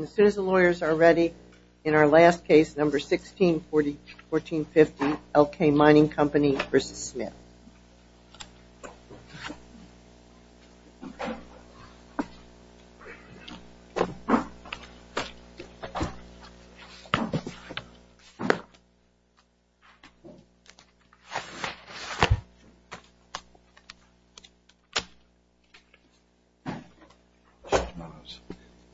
As soon as the lawyers are ready, in our last case, number 161450, L.K. Mining Company v. Smith.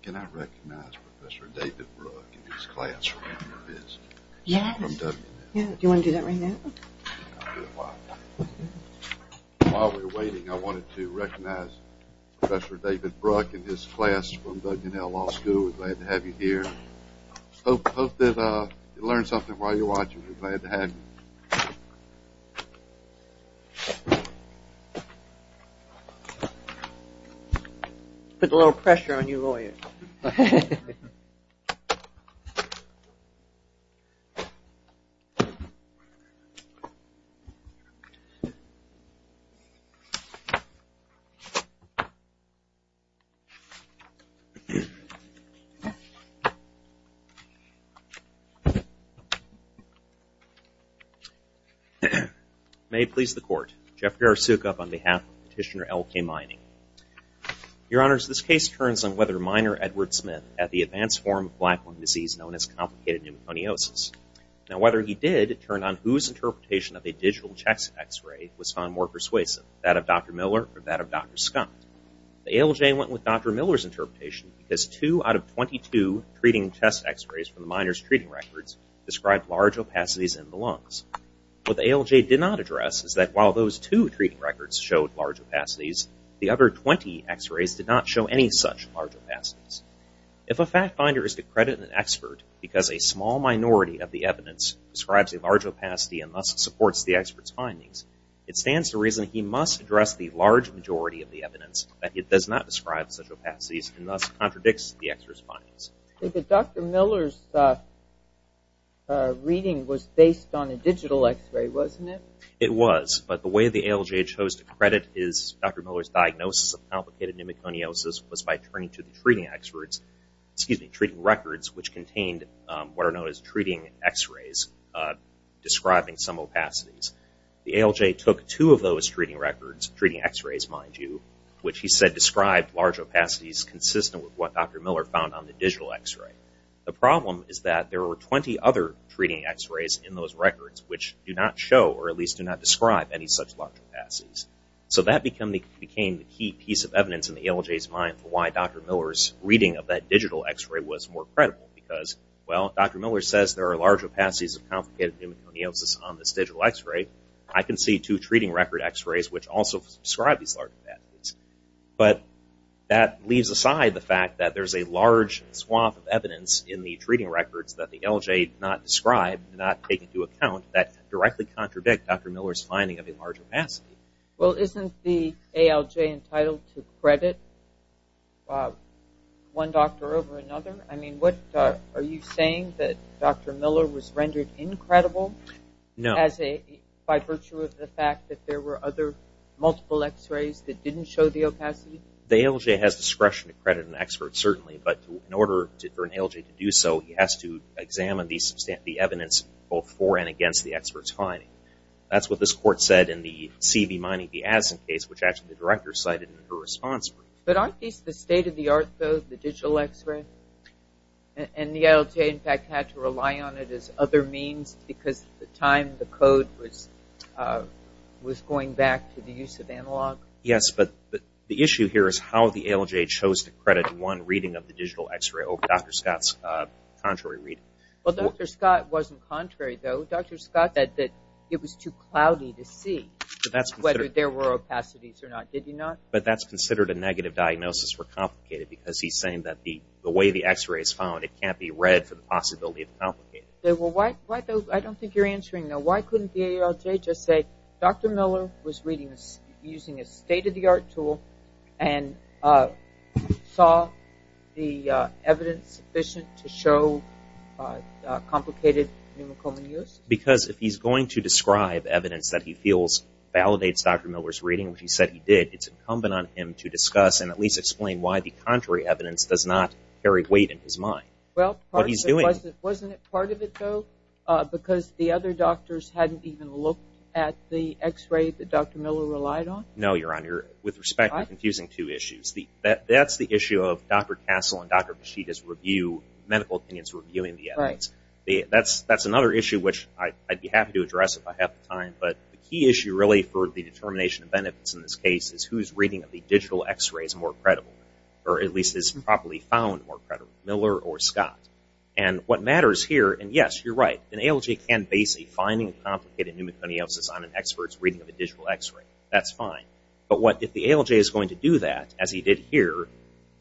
Can I recognize Professor David Rugg in his classroom? Yes. Do you want to do that right now? While we're waiting, I wanted to recognize Professor David Rugg in his class from Duggan L. Law School. We're glad to have you here. Hope that you learned something while you're watching. We're glad to have you. I put a little pressure on you lawyers. Thank you. May it please the court. Jeff Garosukup on behalf of Petitioner L.K. Mining. Your Honors, this case turns on whether Miner Edward Smith had the advanced form of black lung disease known as complicated pneumoconiosis. Now whether he did turned on whose interpretation of a digital chest x-ray was found more persuasive, that of Dr. Miller or that of Dr. Scott. The ALJ went with Dr. Miller's interpretation because two out of 22 treating chest x-rays from the Miner's treating records described large opacities in the lungs. What the ALJ did not address is that while those two treating records showed large opacities, the other 20 x-rays did not show any such large opacities. If a fact finder is to credit an expert because a small minority of the evidence describes a large opacity and thus supports the expert's findings, it stands to reason he must address the large majority of the evidence that it does not describe such opacities and thus contradicts the expert's findings. Dr. Miller's reading was based on a digital x-ray, wasn't it? It was, but the way the ALJ chose to credit Dr. Miller's diagnosis of complicated pneumoconiosis was by turning to the treating experts, excuse me, treating records which contained what are known as treating x-rays describing some opacities. The ALJ took two of those treating records, treating x-rays mind you, which he said described large opacities consistent with what Dr. Miller found on the digital x-ray. The problem is that there were 20 other treating x-rays in those records which do not show or at least do not describe any such large opacities. So that became the key piece of evidence in the ALJ's mind for why Dr. Miller's reading of that digital x-ray was more credible because, well, Dr. Miller says there are large opacities of complicated pneumoconiosis on this digital x-ray. I can see two treating record x-rays which also describe these large opacities. But that leaves aside the fact that there's a large swath of evidence in the treating records that the ALJ did not describe, did not take into account, that directly contradict Dr. Miller's finding of a large opacity. Well, isn't the ALJ entitled to credit one doctor over another? I mean, are you saying that Dr. Miller was rendered incredible? No. By virtue of the fact that there were other multiple x-rays that didn't show the opacity? The ALJ has discretion to credit an expert, certainly, but in order for an ALJ to do so, he has to examine the evidence both for and against the expert's finding. That's what this court said in the C.E.B. Mining the Addison case, which actually the director cited in her response brief. But aren't these the state-of-the-art, though, the digital x-ray? And the ALJ, in fact, had to rely on it as other means because at the time the code was going back to the use of analog? Yes, but the issue here is how the ALJ chose to credit one reading of the digital x-ray over Dr. Scott's contrary reading. Well, Dr. Scott wasn't contrary, though. Dr. Scott said that it was too cloudy to see whether there were opacities or not. Did he not? But that's considered a negative diagnosis for complicated because he's saying that the way the x-ray is found, it can't be read for the possibility of complicated. Well, I don't think you're answering, though. Why couldn't the ALJ just say Dr. Miller was reading using a state-of-the-art tool and saw the evidence sufficient to show complicated pneumocomal use? Because if he's going to describe evidence that he feels validates Dr. Miller's reading, which he said he did, it's incumbent on him to discuss and at least explain why the contrary evidence does not carry weight in his mind. Well, wasn't it part of it, though, because the other doctors hadn't even looked at the x-ray that Dr. Miller relied on? No, Your Honor. With respect, you're confusing two issues. That's the issue of Dr. Castle and Dr. Vachita's review, medical opinions reviewing the evidence. That's another issue which I'd be happy to address if I have the time, but the key issue really for the determination of benefits in this case is whose reading of the digital x-ray is more credible, or at least is properly found more credible, Miller or Scott. And what matters here, and, yes, you're right, an ALJ can base a finding of complicated pneumoconiosis on an expert's reading of a digital x-ray. That's fine. But if the ALJ is going to do that, as he did here,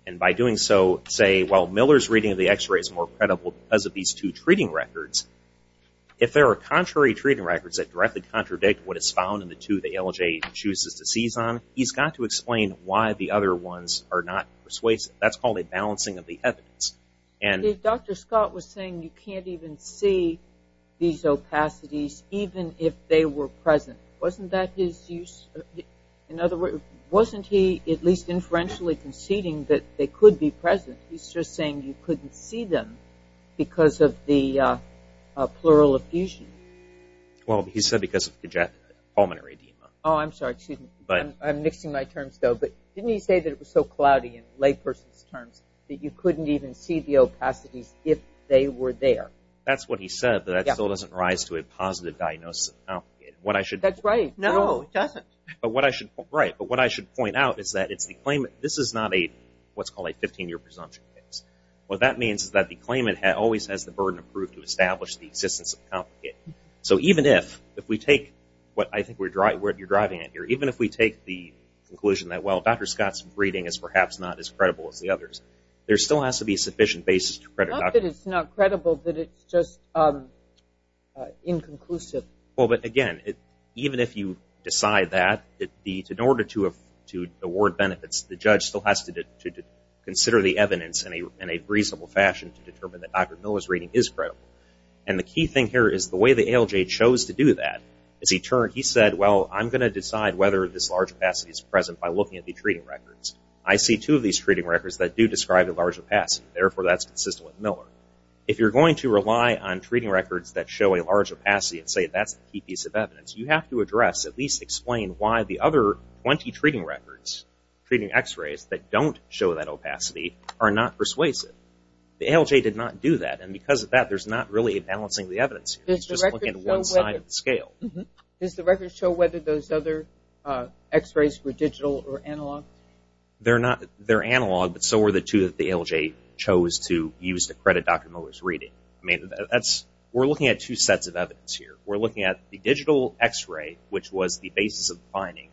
and by doing so say, well, Miller's reading of the x-ray is more credible because of these two treating records, if there are contrary treating records that directly contradict what is found in the two the ALJ chooses to seize on, he's got to explain why the other ones are not persuasive. That's called a balancing of the evidence. Dr. Scott was saying you can't even see these opacities even if they were present. Wasn't that his use? In other words, wasn't he at least inferentially conceding that they could be present? He's just saying you couldn't see them because of the plural effusion. Well, he said because of the pulmonary edema. Oh, I'm sorry. Excuse me. I'm mixing my terms, though. But didn't he say that it was so cloudy in layperson's terms that you couldn't even see the opacities if they were there? That's what he said, that it still doesn't rise to a positive diagnosis. That's right. No, it doesn't. But what I should point out is that this is not what's called a 15-year presumption case. What that means is that the claimant always has the burden of proof to establish the existence of the complicate. So even if we take what I think you're driving at here, even if we take the conclusion that, well, Dr. Scott's reading is perhaps not as credible as the others, there still has to be a sufficient basis to credit Dr. Scott. Not that it's not credible, but it's just inconclusive. Well, but, again, even if you decide that, in order to award benefits, the judge still has to consider the evidence in a reasonable fashion to determine that Dr. Miller's reading is credible. And the key thing here is the way the ALJ chose to do that is he said, well, I'm going to decide whether this large opacity is present by looking at the treating records. I see two of these treating records that do describe a large opacity. Therefore, that's consistent with Miller. If you're going to rely on treating records that show a large opacity and say that's the key piece of evidence, you have to address, at least explain why the other 20 treating records, treating x-rays that don't show that opacity, are not persuasive. The ALJ did not do that. And because of that, there's not really a balancing of the evidence here. It's just looking at one side of the scale. Does the record show whether those other x-rays were digital or analog? They're analog, but so were the two that the ALJ chose to use to credit Dr. Miller's reading. We're looking at two sets of evidence here. We're looking at the digital x-ray, which was the basis of the finding,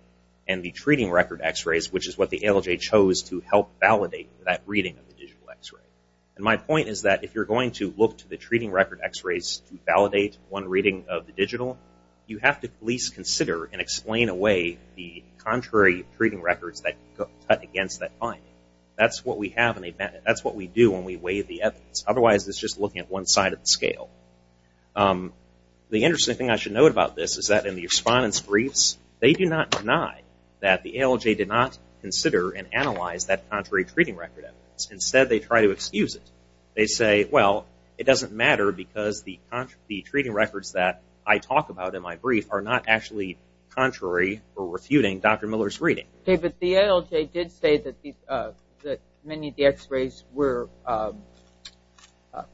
and the treating record x-rays, which is what the ALJ chose to help validate that reading of the digital x-ray. And my point is that if you're going to look to the treating record x-rays to validate one reading of the digital, you have to at least consider and explain away the contrary treating records that cut against that finding. That's what we do when we weigh the evidence. Otherwise, it's just looking at one side of the scale. The interesting thing I should note about this is that in the respondent's briefs, they do not deny that the ALJ did not consider and analyze that contrary treating record evidence. Instead, they try to excuse it. They say, well, it doesn't matter because the treating records that I talk about in my brief are not actually contrary or refuting Dr. Miller's reading. Okay, but the ALJ did say that many of the x-rays were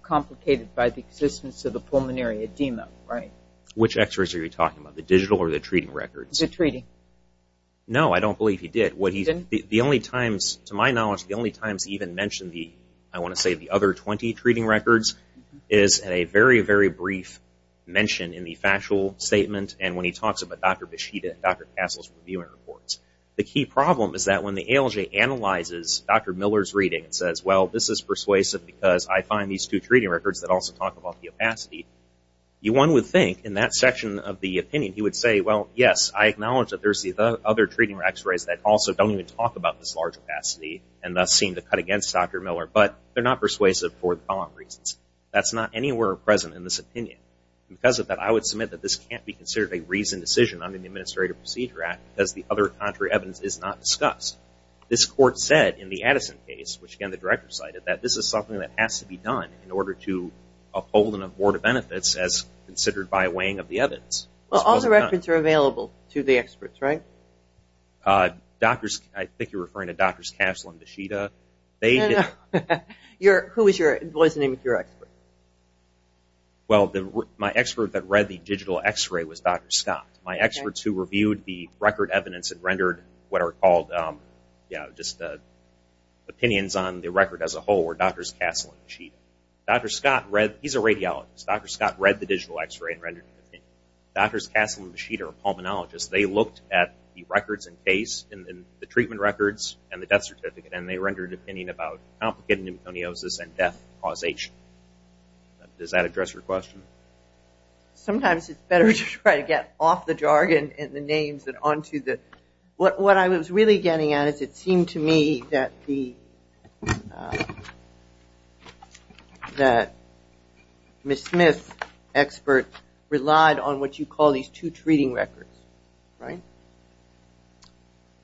complicated by the existence of the pulmonary edema, right? Which x-rays are you talking about, the digital or the treating records? The treating. No, I don't believe he did. The only times, to my knowledge, the only times he even mentioned the, I want to say, the other 20 treating records is at a very, very brief mention in the factual statement and when he talks about Dr. Beshida and Dr. Castle's reviewing reports. The key problem is that when the ALJ analyzes Dr. Miller's reading and says, well, this is persuasive because I find these two treating records that also talk about the opacity, one would think in that section of the opinion, he would say, well, yes, I acknowledge that there's the other treating x-rays that also don't even talk about this large opacity and thus seem to cut against Dr. Miller, but they're not persuasive for the following reasons. That's not anywhere present in this opinion. Because of that, I would submit that this can't be considered a reasoned decision under the Administrative Procedure Act because the other contrary evidence is not discussed. This court said in the Addison case, which, again, the director cited, that this is something that has to be done in order to uphold and abort benefits as considered by a weighing of the evidence. Well, all the records are available to the experts, right? Doctors, I think you're referring to Drs. Castle and Beshida. No, no. Who was your expert? Well, my expert that read the digital x-ray was Dr. Scott. My experts who reviewed the record evidence and rendered what are called just opinions on the record as a whole were Drs. Castle and Beshida. Dr. Scott read, he's a radiologist, Dr. Scott read the digital x-ray and rendered an opinion. Drs. Castle and Beshida are pulmonologists. They looked at the records in case and the treatment records and the death certificate and they rendered an opinion about complicated pneumoconiosis and death causation. Does that address your question? Sometimes it's better to try to get off the jargon and the names and onto the ñ What I was really getting at is it seemed to me that the ñ that Ms. Smith's expert relied on what you call these two treating records, right?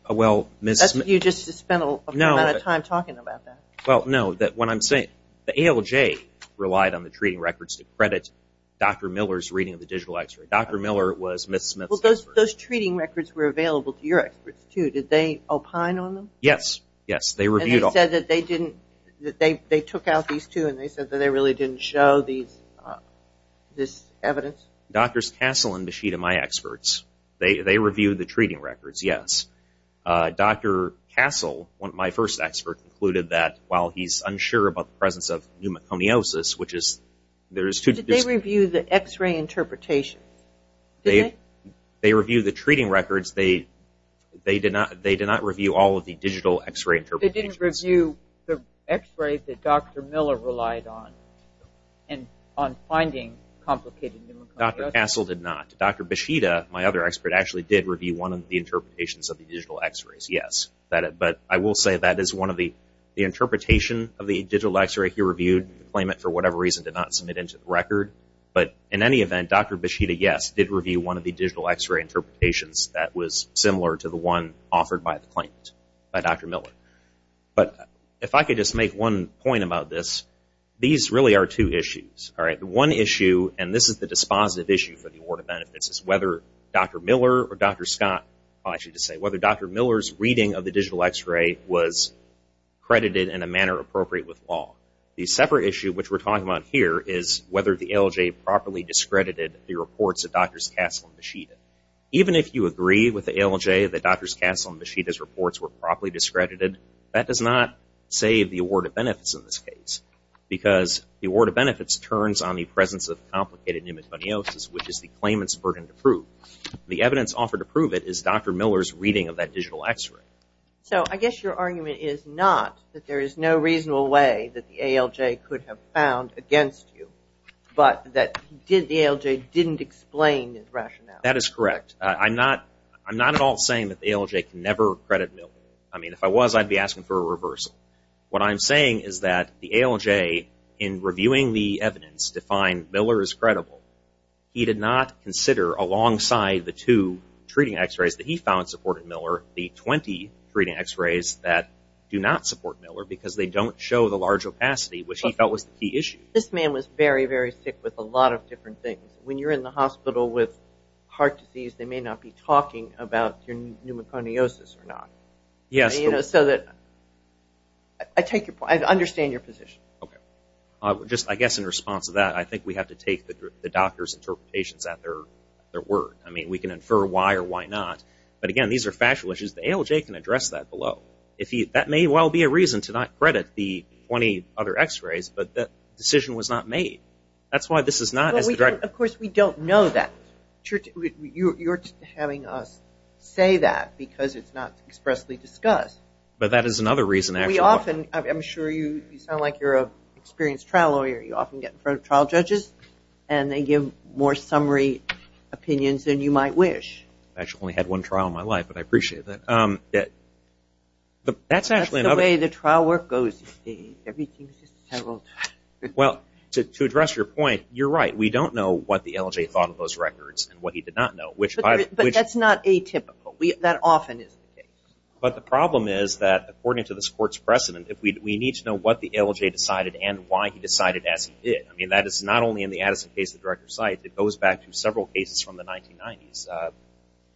Well, Ms. ñ You just spent a lot of time talking about that. Well, no, when I'm saying the ALJ relied on the treating records to credit Dr. Miller's reading of the digital x-ray. Dr. Miller was Ms. Smith's expert. Well, those treating records were available to your experts, too. Did they opine on them? Yes, yes, they reviewed all of them. And they said that they didn't ñ that they took out these two and they said that they really didn't show these ñ this evidence? Drs. Castle and Beshida are my experts. They reviewed the treating records, yes. Dr. Castle, my first expert, concluded that while he's unsure about the presence of pneumoconiosis, which is ñ there is too ñ Did they review the x-ray interpretation? Did they? They reviewed the treating records. They did not review all of the digital x-ray interpretation. They didn't review the x-ray that Dr. Miller relied on on finding complicated pneumoconiosis? Dr. Castle did not. Dr. Beshida, my other expert, actually did review one of the interpretations of the digital x-rays, yes. But I will say that is one of the ñ the interpretation of the digital x-ray he reviewed, the claimant, for whatever reason, did not submit into the record. But in any event, Dr. Beshida, yes, did review one of the digital x-ray interpretations that was similar to the one offered by the claimant, by Dr. Miller. But if I could just make one point about this, these really are two issues, all right? The one issue, and this is the dispositive issue for the Award of Benefits, is whether Dr. Miller or Dr. Scott ñ I'll actually just say ñ whether Dr. Miller's reading of the digital x-ray was credited in a manner appropriate with law. The separate issue, which we're talking about here, is whether the ALJ properly discredited the reports of Drs. Castle and Beshida. Even if you agree with the ALJ that Drs. Castle and Beshida's reports were properly discredited, that does not save the Award of Benefits in this case because the Award of Benefits turns on the presence of complicated pneumoconiosis, which is the claimant's burden to prove. The evidence offered to prove it is Dr. Miller's reading of that digital x-ray. So I guess your argument is not that there is no reasonable way that the ALJ could have found against you, but that the ALJ didn't explain his rationale. That is correct. I'm not at all saying that the ALJ can never credit Miller. I mean, if I was, I'd be asking for a reversal. What I'm saying is that the ALJ, in reviewing the evidence to find Miller is credible, he did not consider alongside the two treating x-rays that he found supported Miller the 20 treating x-rays that do not support Miller because they don't show the large opacity, which he felt was the key issue. This man was very, very sick with a lot of different things. When you're in the hospital with heart disease, they may not be talking about your pneumoconiosis or not. Yes. You know, so that I take your point. I understand your position. Okay. I guess in response to that, I think we have to take the doctor's interpretations at their word. I mean, we can infer why or why not. But, again, these are factual issues. The ALJ can address that below. That may well be a reason to not credit the 20 other x-rays, but the decision was not made. That's why this is not as direct. Of course, we don't know that. You're having us say that because it's not expressly discussed. But that is another reason, actually. I'm sure you sound like you're an experienced trial lawyer. You often get in front of trial judges, and they give more summary opinions than you might wish. I've actually only had one trial in my life, but I appreciate that. That's actually another thing. That's the way the trial work goes these days. Everything is just settled. Well, to address your point, you're right. We don't know what the ALJ thought of those records and what he did not know. But that's not atypical. That often is the case. But the problem is that, according to this court's precedent, we need to know what the ALJ decided and why he decided as he did. I mean, that is not only in the Addison case, the director cites. It goes back to several cases from the 1990s,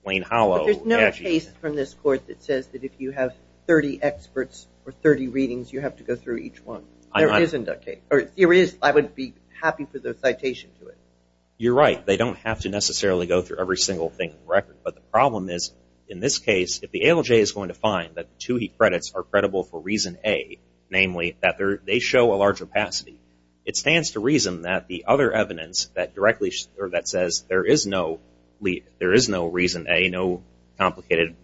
Wayne Hollow. There's no case from this court that says that if you have 30 experts or 30 readings, you have to go through each one. There isn't a case. There is. I would be happy for the citation to it. You're right. They don't have to necessarily go through every single thing in the record. But the problem is, in this case, if the ALJ is going to find that the two he credits are credible for reason A, namely, that they show a large opacity, it stands to reason that the other evidence that says there is no reason A, no complicated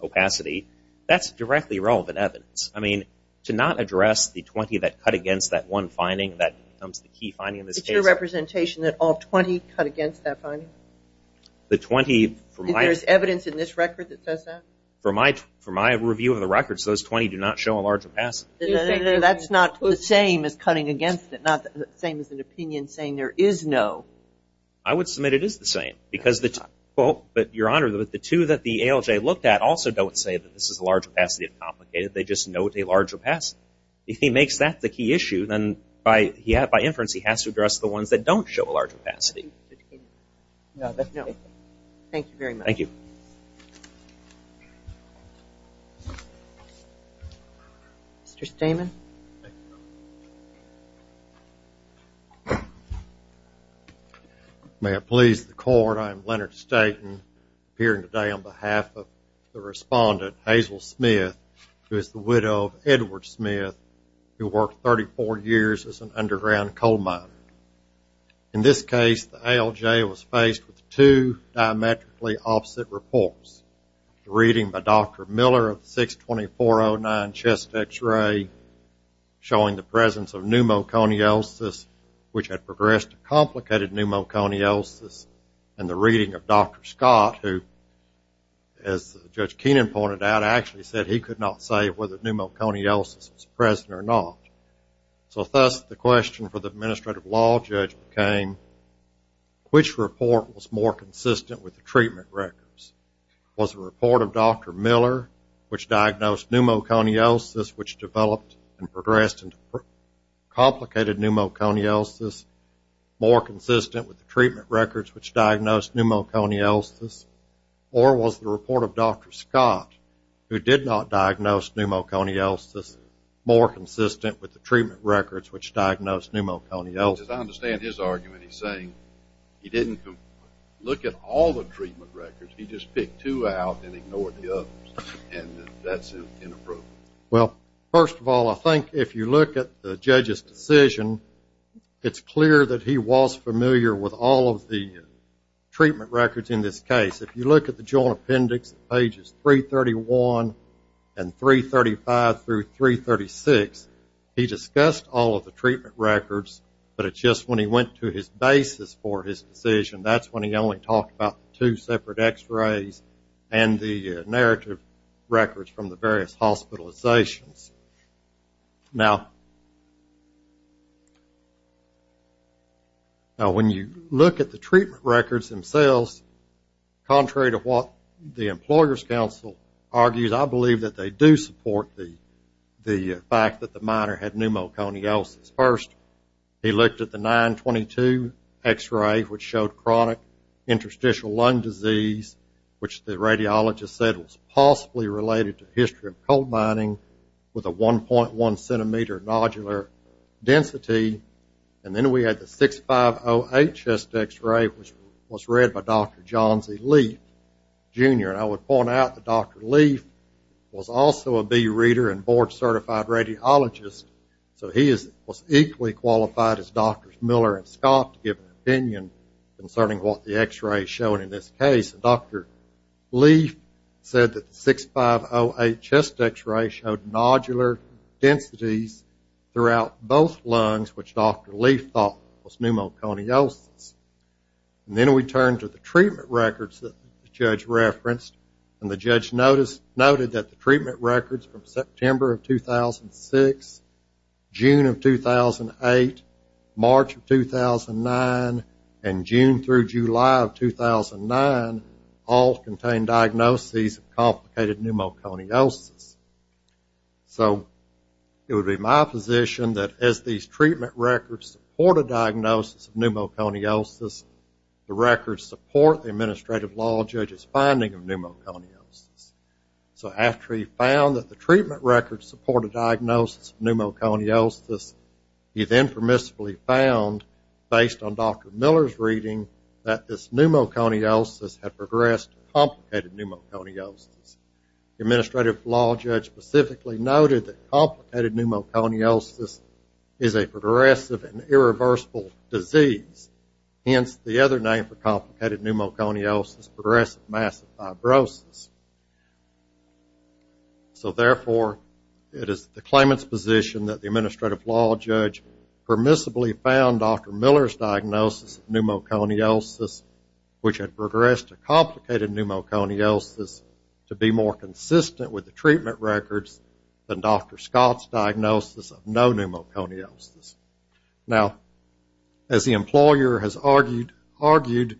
opacity, that's directly relevant evidence. I mean, to not address the 20 that cut against that one finding, that becomes the key finding in this case. It's your representation that all 20 cut against that finding? The 20 from my – Is there evidence in this record that says that? From my review of the records, those 20 do not show a large opacity. That's not the same as cutting against it, not the same as an opinion saying there is no. I would submit it is the same. But, Your Honor, the two that the ALJ looked at also don't say that this is a large opacity if complicated. They just note a large opacity. If he makes that the key issue, then by inference, he has to address the ones that don't show a large opacity. Thank you very much. Thank you. Mr. Stamen. May it please the Court, I am Leonard Staten, appearing today on behalf of the respondent, Hazel Smith, who is the widow of Edward Smith, who worked 34 years as an underground coal miner. In this case, the ALJ was faced with two diametrically opposite reports. The reading by Dr. Miller of the 62409 chest X-ray showing the presence of pneumoconiosis, which had progressed to complicated pneumoconiosis, and the reading of Dr. Scott, who, as Judge Keenan pointed out, actually said he could not say whether pneumoconiosis was present or not. So thus, the question for the administrative law judge became, which report was more consistent with the treatment records? Was the report of Dr. Miller, which diagnosed pneumoconiosis, which developed and progressed into complicated pneumoconiosis, more consistent with the treatment records which diagnosed pneumoconiosis? Or was the report of Dr. Scott, who did not diagnose pneumoconiosis, more consistent with the treatment records which diagnosed pneumoconiosis? As I understand his argument, he's saying he didn't look at all the treatment records. He just picked two out and ignored the others. And that's inappropriate. Well, first of all, I think if you look at the judge's decision, it's clear that he was familiar with all of the treatment records in this case. If you look at the Joint Appendix, pages 331 and 335 through 336, he discussed all of the treatment records, but it's just when he went to his basis for his decision, that's when he only talked about the two separate x-rays and the narrative records from the various hospitalizations. Now, when you look at the treatment records themselves, contrary to what the Employer's Council argues, I believe that they do support the fact that the minor had pneumoconiosis first. He looked at the 922 x-ray, which showed chronic interstitial lung disease, which the radiologist said was possibly related to history of coal mining with a 1.1-centimeter nodular density. And then we had the 6508 chest x-ray, which was read by Dr. John Z. Leaf, Jr. And I would point out that Dr. Leaf was also a B Reader and board-certified radiologist, so he was equally qualified as Drs. Miller and Scott to give an opinion concerning what the x-rays showed in this case. Dr. Leaf said that the 6508 chest x-ray showed nodular densities throughout both lungs, which Dr. Leaf thought was pneumoconiosis. And then we turn to the treatment records that the judge referenced, and the judge noted that the treatment records from September of 2006, June of 2008, March of 2009, and June through July of 2009 all contained diagnoses of complicated pneumoconiosis. So it would be my position that as these treatment records support a diagnosis of pneumoconiosis, the records support the administrative law judge's finding of pneumoconiosis. So after he found that the treatment records supported diagnosis of pneumoconiosis, he then permissibly found, based on Dr. Miller's reading, that this pneumoconiosis had progressed to complicated pneumoconiosis. The administrative law judge specifically noted that complicated pneumoconiosis is a progressive and irreversible disease. Hence the other name for complicated pneumoconiosis, progressive massive fibrosis. So therefore, it is the claimant's position that the administrative law judge permissibly found Dr. Miller's diagnosis of pneumoconiosis, which had progressed to complicated pneumoconiosis, to be more consistent with the treatment records than Dr. Scott's diagnosis of no pneumoconiosis. Now, as the employer has argued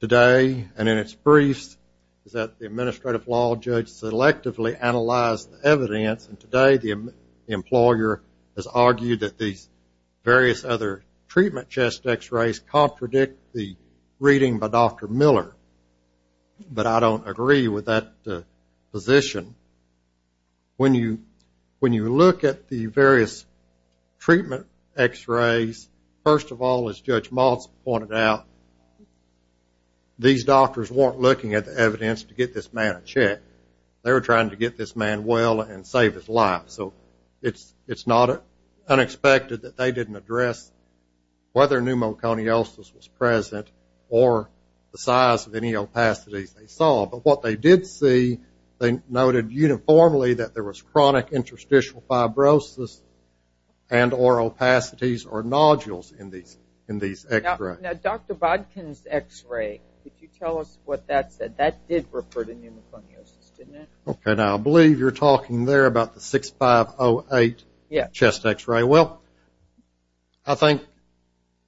today and in its briefs, is that the administrative law judge selectively analyzed the evidence. And today the employer has argued that these various other treatment chest X-rays contradict the reading by Dr. Miller. But I don't agree with that position. When you look at the various treatment X-rays, first of all, as Judge Maltz pointed out, these doctors weren't looking at the evidence to get this man a check. They were trying to get this man well and save his life. So it's not unexpected that they didn't address whether pneumoconiosis was present or the size of any opacities they saw. But what they did see, they noted uniformly that there was chronic interstitial fibrosis and or opacities or nodules in these X-rays. Now, Dr. Bodkin's X-ray, could you tell us what that said? That did refer to pneumoconiosis, didn't it? Okay. Now, I believe you're talking there about the 6508 chest X-ray. Okay. Well, I think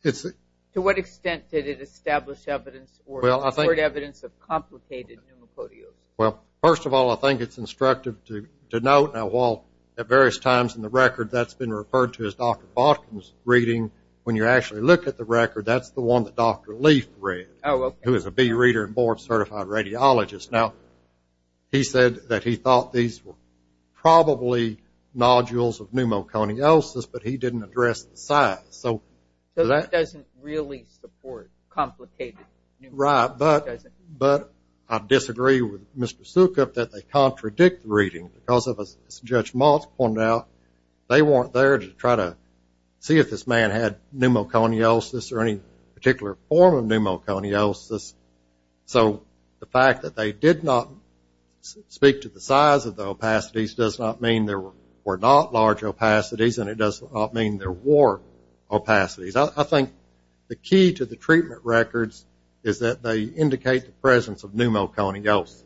it's... To what extent did it establish evidence or report evidence of complicated pneumoconiosis? Well, first of all, I think it's instructive to note, now while at various times in the record that's been referred to as Dr. Bodkin's reading, when you actually look at the record, that's the one that Dr. Leaf read, who is a B Reader and Board Certified Radiologist. Now, he said that he thought these were probably nodules of pneumoconiosis, but he didn't address the size. So that doesn't really support complicated pneumoconiosis. Right. But I disagree with Mr. Sukup that they contradict the reading because, as Judge Motz pointed out, they weren't there to try to see if this man had pneumoconiosis or any particular form of pneumoconiosis. So the fact that they did not speak to the size of the opacities does not mean there were not large opacities, and it does not mean there were opacities. I think the key to the treatment records is that they indicate the presence of pneumoconiosis.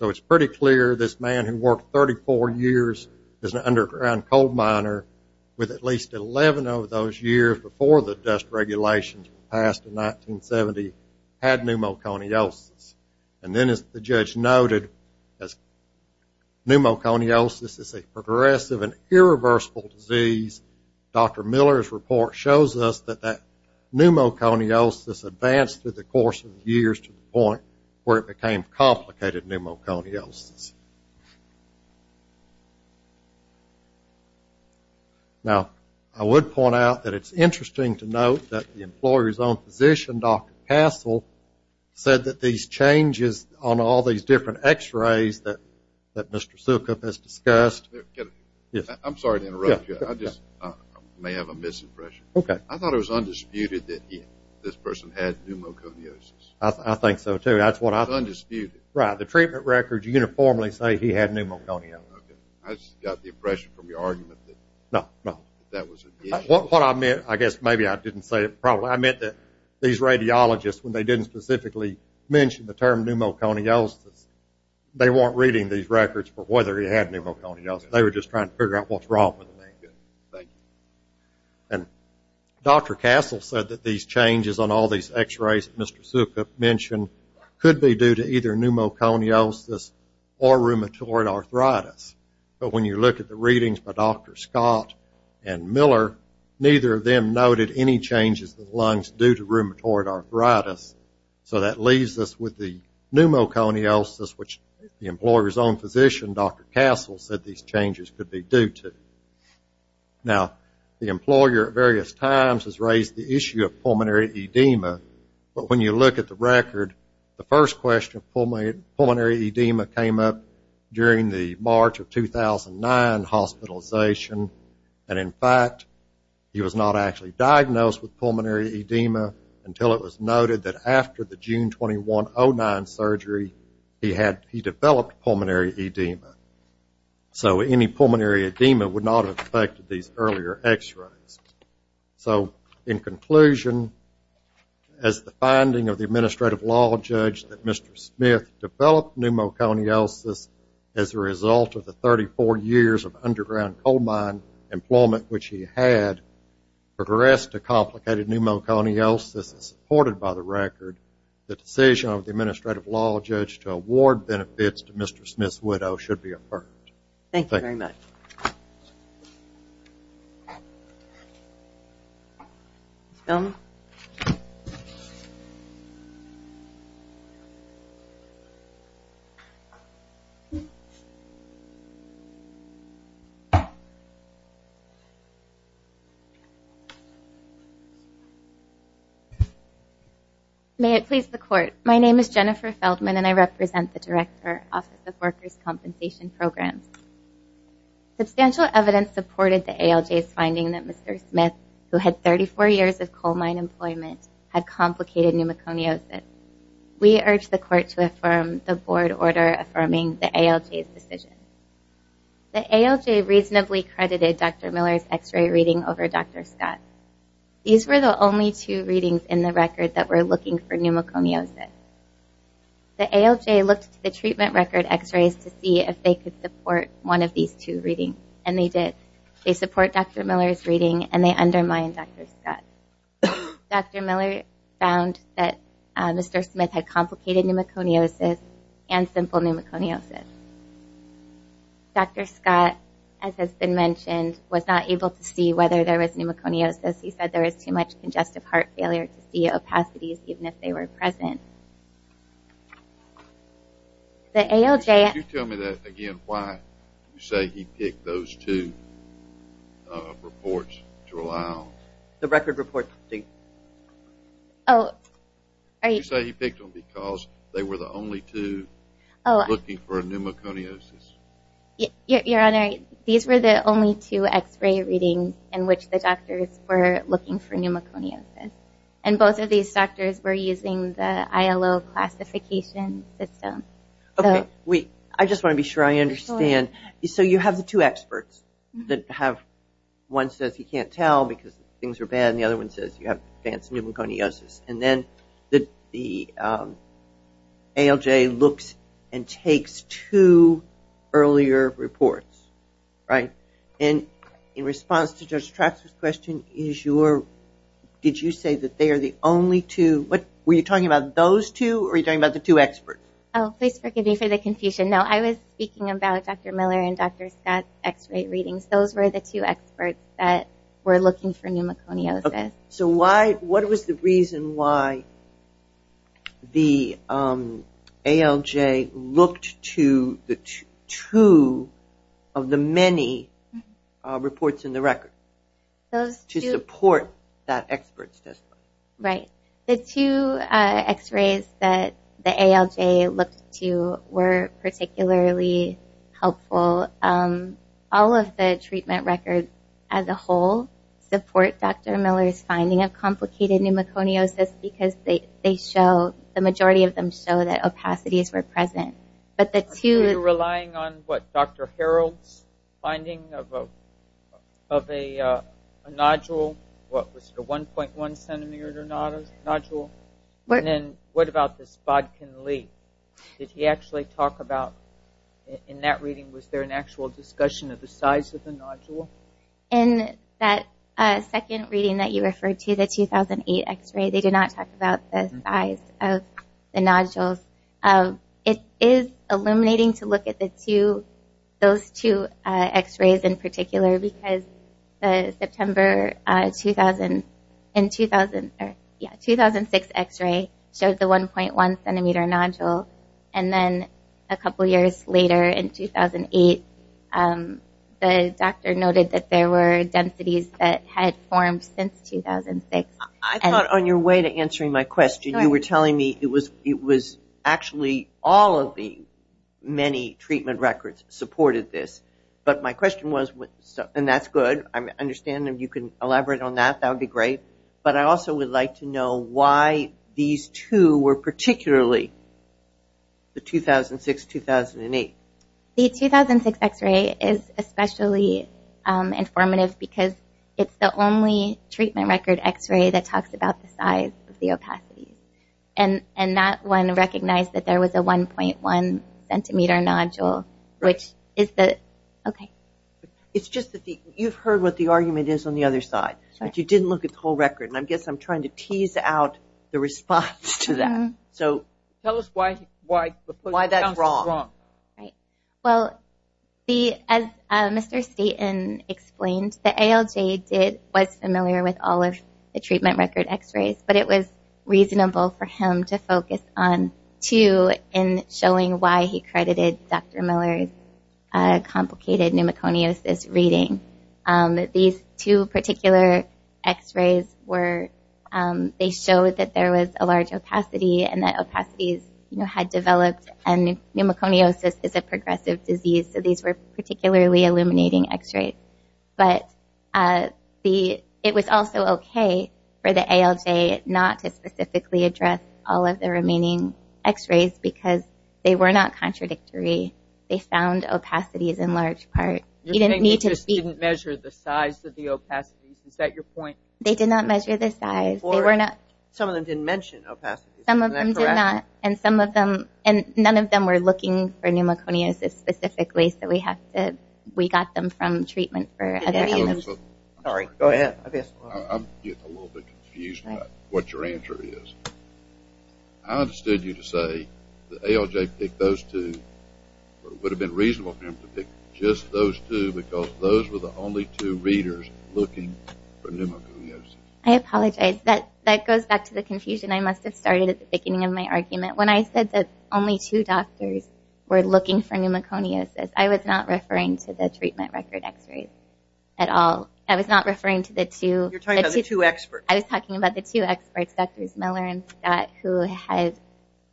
So it's pretty clear this man who worked 34 years as an underground coal miner with at least 11 of those years before the dust regulations were passed in 1970 had pneumoconiosis. And then, as the judge noted, as pneumoconiosis is a progressive and irreversible disease, Dr. Miller's report shows us that that pneumoconiosis advanced through the course of years to the point where it became complicated pneumoconiosis. Now, I would point out that it's interesting to note that the employer's own physician, Dr. Castle, said that these changes on all these different x-rays that Mr. Sukup has discussed I'm sorry to interrupt you. I just may have a misimpression. Okay. I thought it was undisputed that this person had pneumoconiosis. I think so, too. It's undisputed. Right. The treatment records uniformly say he had pneumoconiosis. Okay. I just got the impression from your argument that that was an issue. No, no. What I meant, I guess maybe I didn't say it properly, I meant that these radiologists, when they didn't specifically mention the term pneumoconiosis, they weren't reading these records for whether he had pneumoconiosis. They were just trying to figure out what's wrong with him. Okay. Thank you. And Dr. Castle said that these changes on all these x-rays that Mr. Sukup mentioned could be due to either pneumoconiosis or rheumatoid arthritis. But when you look at the readings by Dr. Scott and Miller, neither of them noted any changes in the lungs due to rheumatoid arthritis. So that leaves us with the pneumoconiosis, which the employer's own physician, Dr. Castle, said these changes could be due to. Now, the employer at various times has raised the issue of pulmonary edema, but when you look at the record, the first question of pulmonary edema came up during the March of 2009 hospitalization. And, in fact, he was not actually diagnosed with pulmonary edema until it was noted that after the June 21, 2009 surgery, he developed pulmonary edema. So any pulmonary edema would not have affected these earlier x-rays. So, in conclusion, as the finding of the administrative law judge that Mr. Smith developed pneumoconiosis as a result of the 34 years of underground coal mine employment which he had progressed to complicated pneumoconiosis supported by the record, the decision of the administrative law judge to award benefits to Mr. Smith's widow should be affirmed. Thank you very much. Ms. Feldman? May it please the Court. My name is Jennifer Feldman, and I represent the Director, Office of Workers' Compensation Programs. Substantial evidence supported the ALJ's finding that Mr. Smith, who had 34 years of coal mine employment, had complicated pneumoconiosis. We urge the Court to affirm the board order affirming the ALJ's decision. The ALJ reasonably credited Dr. Miller's x-ray reading over Dr. Scott's. These were the only two readings in the record that were looking for pneumoconiosis. The ALJ looked at the treatment record x-rays to see if they could support one of these two readings, and they did. They support Dr. Miller's reading, and they undermine Dr. Scott's. Dr. Miller found that Mr. Smith had complicated pneumoconiosis and simple pneumoconiosis. Dr. Scott, as has been mentioned, was not able to see whether there was pneumoconiosis. He said there was too much congestive heart failure to see opacities, even if they were present. Could you tell me, again, why you say he picked those two reports to rely on? You say he picked them because they were the only two looking for pneumoconiosis. Your Honor, these were the only two x-ray readings in which the doctors were looking for pneumoconiosis. And both of these doctors were using the ILO classification system. Okay. I just want to be sure I understand. So you have the two experts that have one says he can't tell because things are bad, and the other one says you have advanced pneumoconiosis. And then the ALJ looks and takes two earlier reports, right? And in response to Judge Traxler's question, did you say that they are the only two? Were you talking about those two, or were you talking about the two experts? Oh, please forgive me for the confusion. No, I was speaking about Dr. Miller and Dr. Scott's x-ray readings. Those were the two experts that were looking for pneumoconiosis. So what was the reason why the ALJ looked to the two of the many reports in the record to support that expert's testimony? Right. The two x-rays that the ALJ looked to were particularly helpful. All of the treatment records as a whole support Dr. Miller's finding of complicated pneumoconiosis because they show, the majority of them show that opacities were present. So you're relying on what, Dr. Harold's finding of a nodule, what was it, a 1.1 centimeter nodule? And then what about this Bodkin-Lee? Did he actually talk about, in that reading, was there an actual discussion of the size of the nodule? In that second reading that you referred to, the 2008 x-ray, they did not talk about the size of the nodules. It is illuminating to look at those two x-rays in particular because the September 2006 x-ray showed the 1.1 centimeter nodule. And then a couple years later, in 2008, the doctor noted that there were densities that had formed since 2006. I thought on your way to answering my question, you were telling me it was actually all of the many treatment records supported this. But my question was, and that's good. I understand that you can elaborate on that. That would be great. But I also would like to know why these two were particularly, the 2006-2008. The 2006 x-ray is especially informative because it's the only treatment record x-ray that talks about the size of the opacity. And that one recognized that there was a 1.1 centimeter nodule, which is the, okay. It's just that you've heard what the argument is on the other side, but you didn't look at the whole record. And I guess I'm trying to tease out the response to that. Tell us why that's wrong. Well, as Mr. Staten explained, the ALJ was familiar with all of the treatment record x-rays, but it was reasonable for him to focus on two in showing why he credited Dr. Miller's complicated pneumoconiosis reading. These two particular x-rays were, they showed that there was a large opacity, and that opacities had developed, and pneumoconiosis is a progressive disease, so these were particularly illuminating x-rays. But it was also okay for the ALJ not to specifically address all of the remaining x-rays because they were not contradictory. They found opacities in large part. You're saying they just didn't measure the size of the opacities. Is that your point? They did not measure the size. Some of them didn't mention opacities. Some of them did not, and none of them were looking for pneumoconiosis specifically, so we got them from treatment for other illness. Sorry, go ahead. I'm getting a little bit confused about what your answer is. I understood you to say the ALJ picked those two, but it would have been reasonable for him to pick just those two because those were the only two readers looking for pneumoconiosis. I apologize. That goes back to the confusion I must have started at the beginning of my argument. When I said that only two doctors were looking for pneumoconiosis, I was not referring to the treatment record x-rays at all. I was not referring to the two. You're talking about the two experts. I was talking about the two experts, Drs. Miller and Scott, who had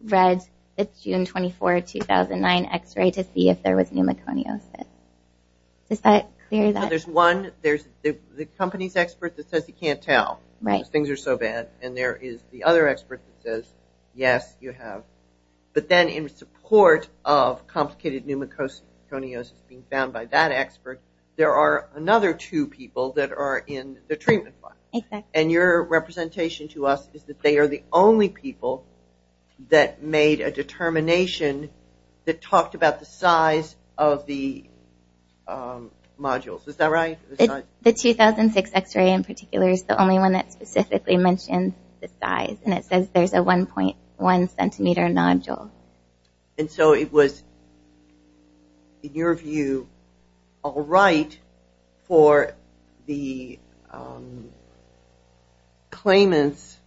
read the June 24, 2009 x-ray to see if there was pneumoconiosis. Is that clear? There's one. There's the company's expert that says he can't tell because things are so bad, and there is the other expert that says, yes, you have. But then in support of complicated pneumoconiosis being found by that expert, there are another two people that are in the treatment file. And your representation to us is that they are the only people that made a determination that talked about the size of the modules. Is that right? The 2006 x-ray in particular is the only one that specifically mentioned the size, and it says there's a 1.1-centimeter nodule. And so it was, in your view, all right for the claimant's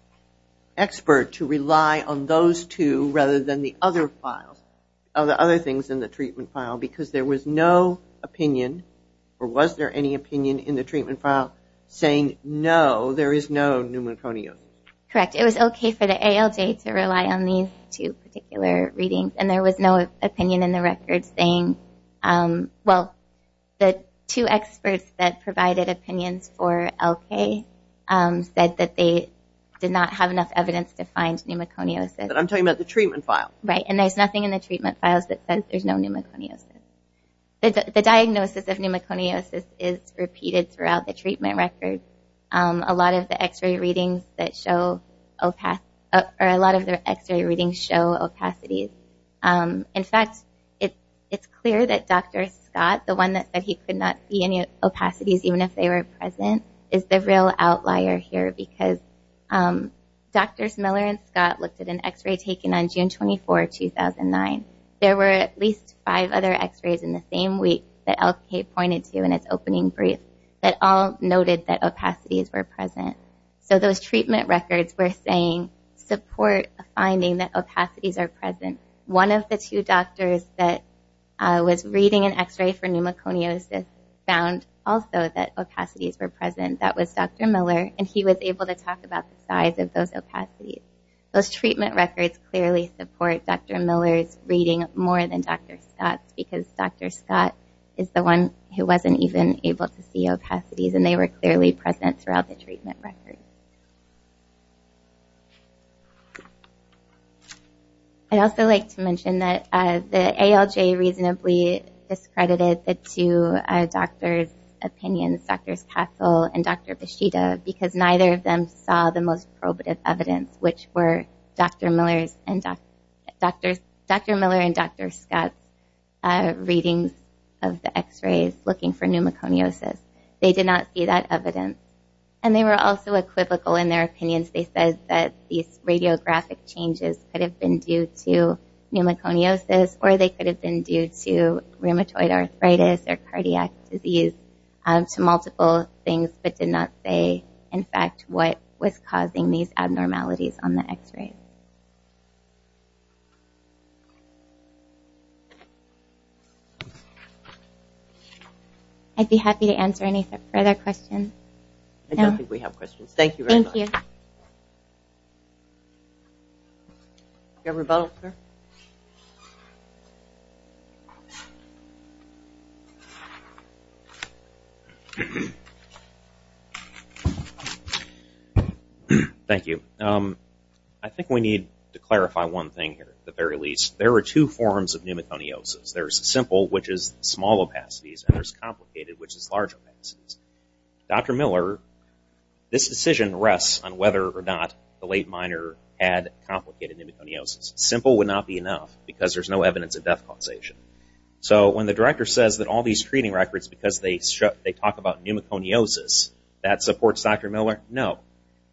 expert to rely on those two rather than the other things in the treatment file because there was no opinion or was there any opinion in the treatment file saying, no, there is no pneumoconiosis? Correct. It was okay for the ALJ to rely on these two particular readings, and there was no opinion in the record saying, well, the two experts that provided opinions for LK said that they did not have enough evidence to find pneumoconiosis. I'm talking about the treatment file. Right. And there's nothing in the treatment files that says there's no pneumoconiosis. The diagnosis of pneumoconiosis is repeated throughout the treatment record. A lot of the x-ray readings show opacities. In fact, it's clear that Dr. Scott, the one that said he could not see any opacities, even if they were present, is the real outlier here because Drs. Miller and Scott looked at an x-ray taken on June 24, 2009. There were at least five other x-rays in the same week that LK pointed to in its opening brief that all noted that opacities were present. So those treatment records were saying support a finding that opacities are present. One of the two doctors that was reading an x-ray for pneumoconiosis found also that opacities were present. That was Dr. Miller, and he was able to talk about the size of those opacities. Those treatment records clearly support Dr. Miller's reading more than Dr. Scott's because Dr. Scott is the one who wasn't even able to see opacities, and they were clearly present throughout the treatment record. I'd also like to mention that the ALJ reasonably discredited the two doctors' opinions, Drs. Katzel and Dr. Bishida, because neither of them saw the most probative evidence, which were Dr. Miller and Dr. Scott's readings of the x-rays looking for pneumoconiosis. They did not see that evidence, and they were also equivocal in their opinions. They said that these radiographic changes could have been due to pneumoconiosis or they could have been due to rheumatoid arthritis or cardiac disease, to multiple things but did not say, in fact, what was causing these abnormalities on the x-ray. I'd be happy to answer any further questions. I don't think we have questions. Thank you very much. Thank you. Do we have a rebuttal, sir? Thank you. I think we need to clarify one thing here, at the very least. There are two forms of pneumoconiosis. There's simple, which is small opacities, and there's complicated, which is large opacities. Dr. Miller, this decision rests on whether or not the late minor had complicated pneumoconiosis. Simple would not be enough, because there's no evidence of death causation. So when the director says that all these treating records, because they talk about pneumoconiosis, that supports Dr. Miller? No.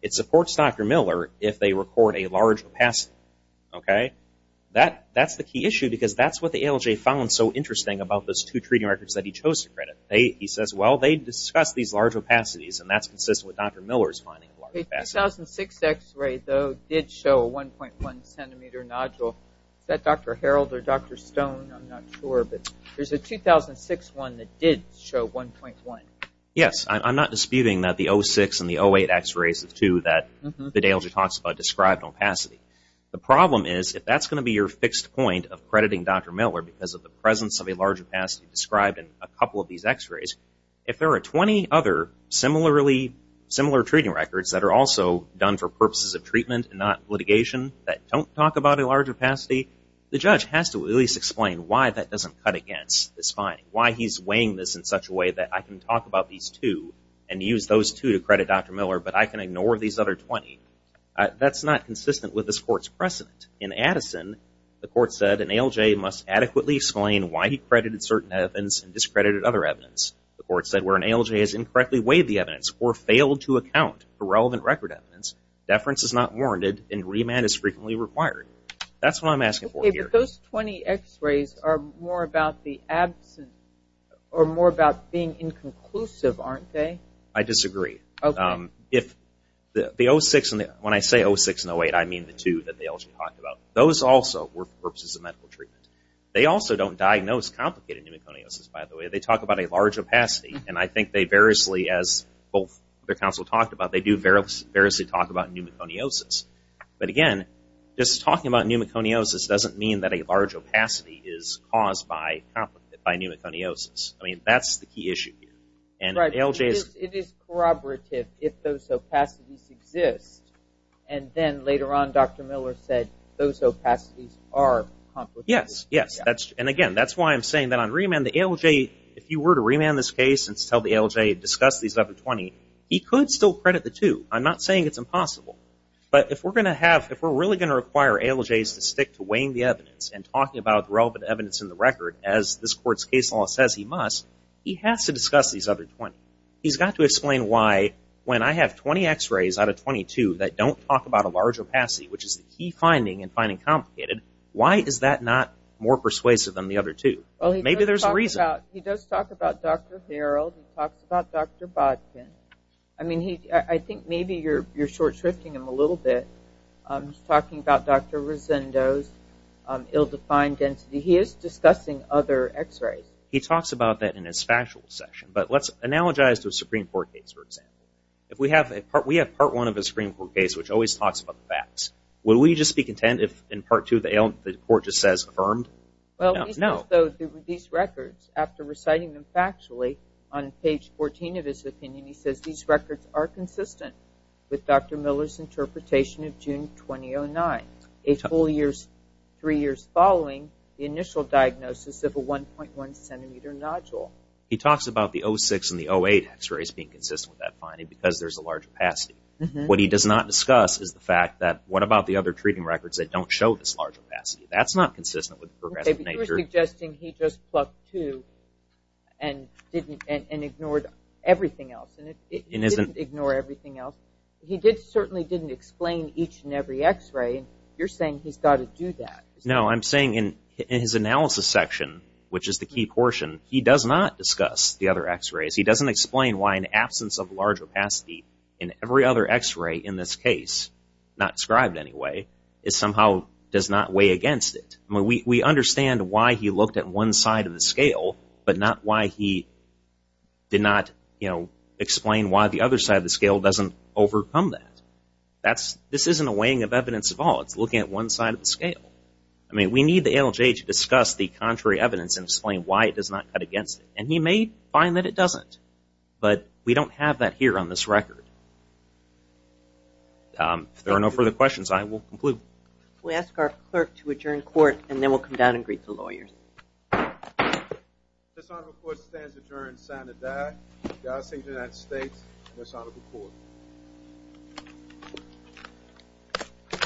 It supports Dr. Miller if they record a large opacity. Okay? That's the key issue, because that's what the ALJ found so interesting about those two treating records that he chose to credit. He says, well, they discuss these large opacities, and that's consistent with Dr. Miller's finding of large opacities. The 2006 x-ray, though, did show a 1.1-centimeter nodule. Is that Dr. Harold or Dr. Stone? I'm not sure. But there's a 2006 one that did show 1.1. Yes. I'm not disputing that the 06 and the 08 x-rays are two that the ALJ talks about described opacity. The problem is, if that's going to be your fixed point of crediting Dr. Miller, because of the presence of a large opacity described in a couple of these x-rays, if there are 20 other similar treating records that are also done for purposes of treatment and not litigation that don't talk about a large opacity, the judge has to at least explain why that doesn't cut against this finding, why he's weighing this in such a way that I can talk about these two and use those two to credit Dr. Miller, but I can ignore these other 20. That's not consistent with this court's precedent. In Addison, the court said an ALJ must adequately explain why he credited certain evidence and discredited other evidence. The court said where an ALJ has incorrectly weighed the evidence or failed to account for relevant record evidence, deference is not warranted and remand is frequently required. That's what I'm asking for here. Okay. But those 20 x-rays are more about the absence or more about being inconclusive, aren't they? I disagree. Okay. When I say 06 and 08, I mean the two that the ALJ talked about. Those also were for purposes of medical treatment. They also don't diagnose complicated pneumoconiosis, by the way. They talk about a large opacity, and I think they variously, as both the counsel talked about, they do variously talk about pneumoconiosis. But, again, just talking about pneumoconiosis doesn't mean that a large opacity is caused by pneumoconiosis. I mean, that's the key issue here. It is corroborative if those opacities exist, and then later on Dr. Miller said those opacities are complicated. Yes, yes. And, again, that's why I'm saying that on remand the ALJ, if you were to remand this case and tell the ALJ to discuss these other 20, he could still credit the two. I'm not saying it's impossible. But if we're really going to require ALJs to stick to weighing the evidence and talking about the relevant evidence in the record, as this court's case law says he must, he has to discuss these other 20. He's got to explain why when I have 20 x-rays out of 22 that don't talk about a large opacity, which is the key finding in finding complicated, why is that not more persuasive than the other two? Maybe there's a reason. Well, he does talk about Dr. Harreld. He talks about Dr. Bodkin. I mean, I think maybe you're short-shifting him a little bit. He's talking about Dr. Rosendo's ill-defined density. He is discussing other x-rays. He talks about that in his factual session. But let's analogize to a Supreme Court case, for example. If we have part one of a Supreme Court case which always talks about the facts, would we just be content if in part two the court just says affirmed? No. These records, after reciting them factually on page 14 of his opinion, he says these records are consistent with Dr. Miller's interpretation of June 2009, a full three years following the initial diagnosis of a 1.1 centimeter nodule. He talks about the 06 and the 08 x-rays being consistent with that finding because there's a large opacity. What he does not discuss is the fact that what about the other treating records that don't show this large opacity? That's not consistent with the progressive nature. Okay, but you're suggesting he just plucked two and ignored everything else. He didn't ignore everything else. He certainly didn't explain each and every x-ray. You're saying he's got to do that. No, I'm saying in his analysis section, which is the key portion, he does not discuss the other x-rays. He doesn't explain why an absence of large opacity in every other x-ray in this case, not described anyway, somehow does not weigh against it. But not why he did not explain why the other side of the scale doesn't overcome that. This isn't a weighing of evidence at all. It's looking at one side of the scale. I mean, we need the ALJ to discuss the contrary evidence and explain why it does not cut against it. And he may find that it doesn't. But we don't have that here on this record. If there are no further questions, I will conclude. We ask our clerk to adjourn court, and then we'll come down and greet the lawyers. This honorable court stands adjourned, sign of the die. God save the United States and this honorable court.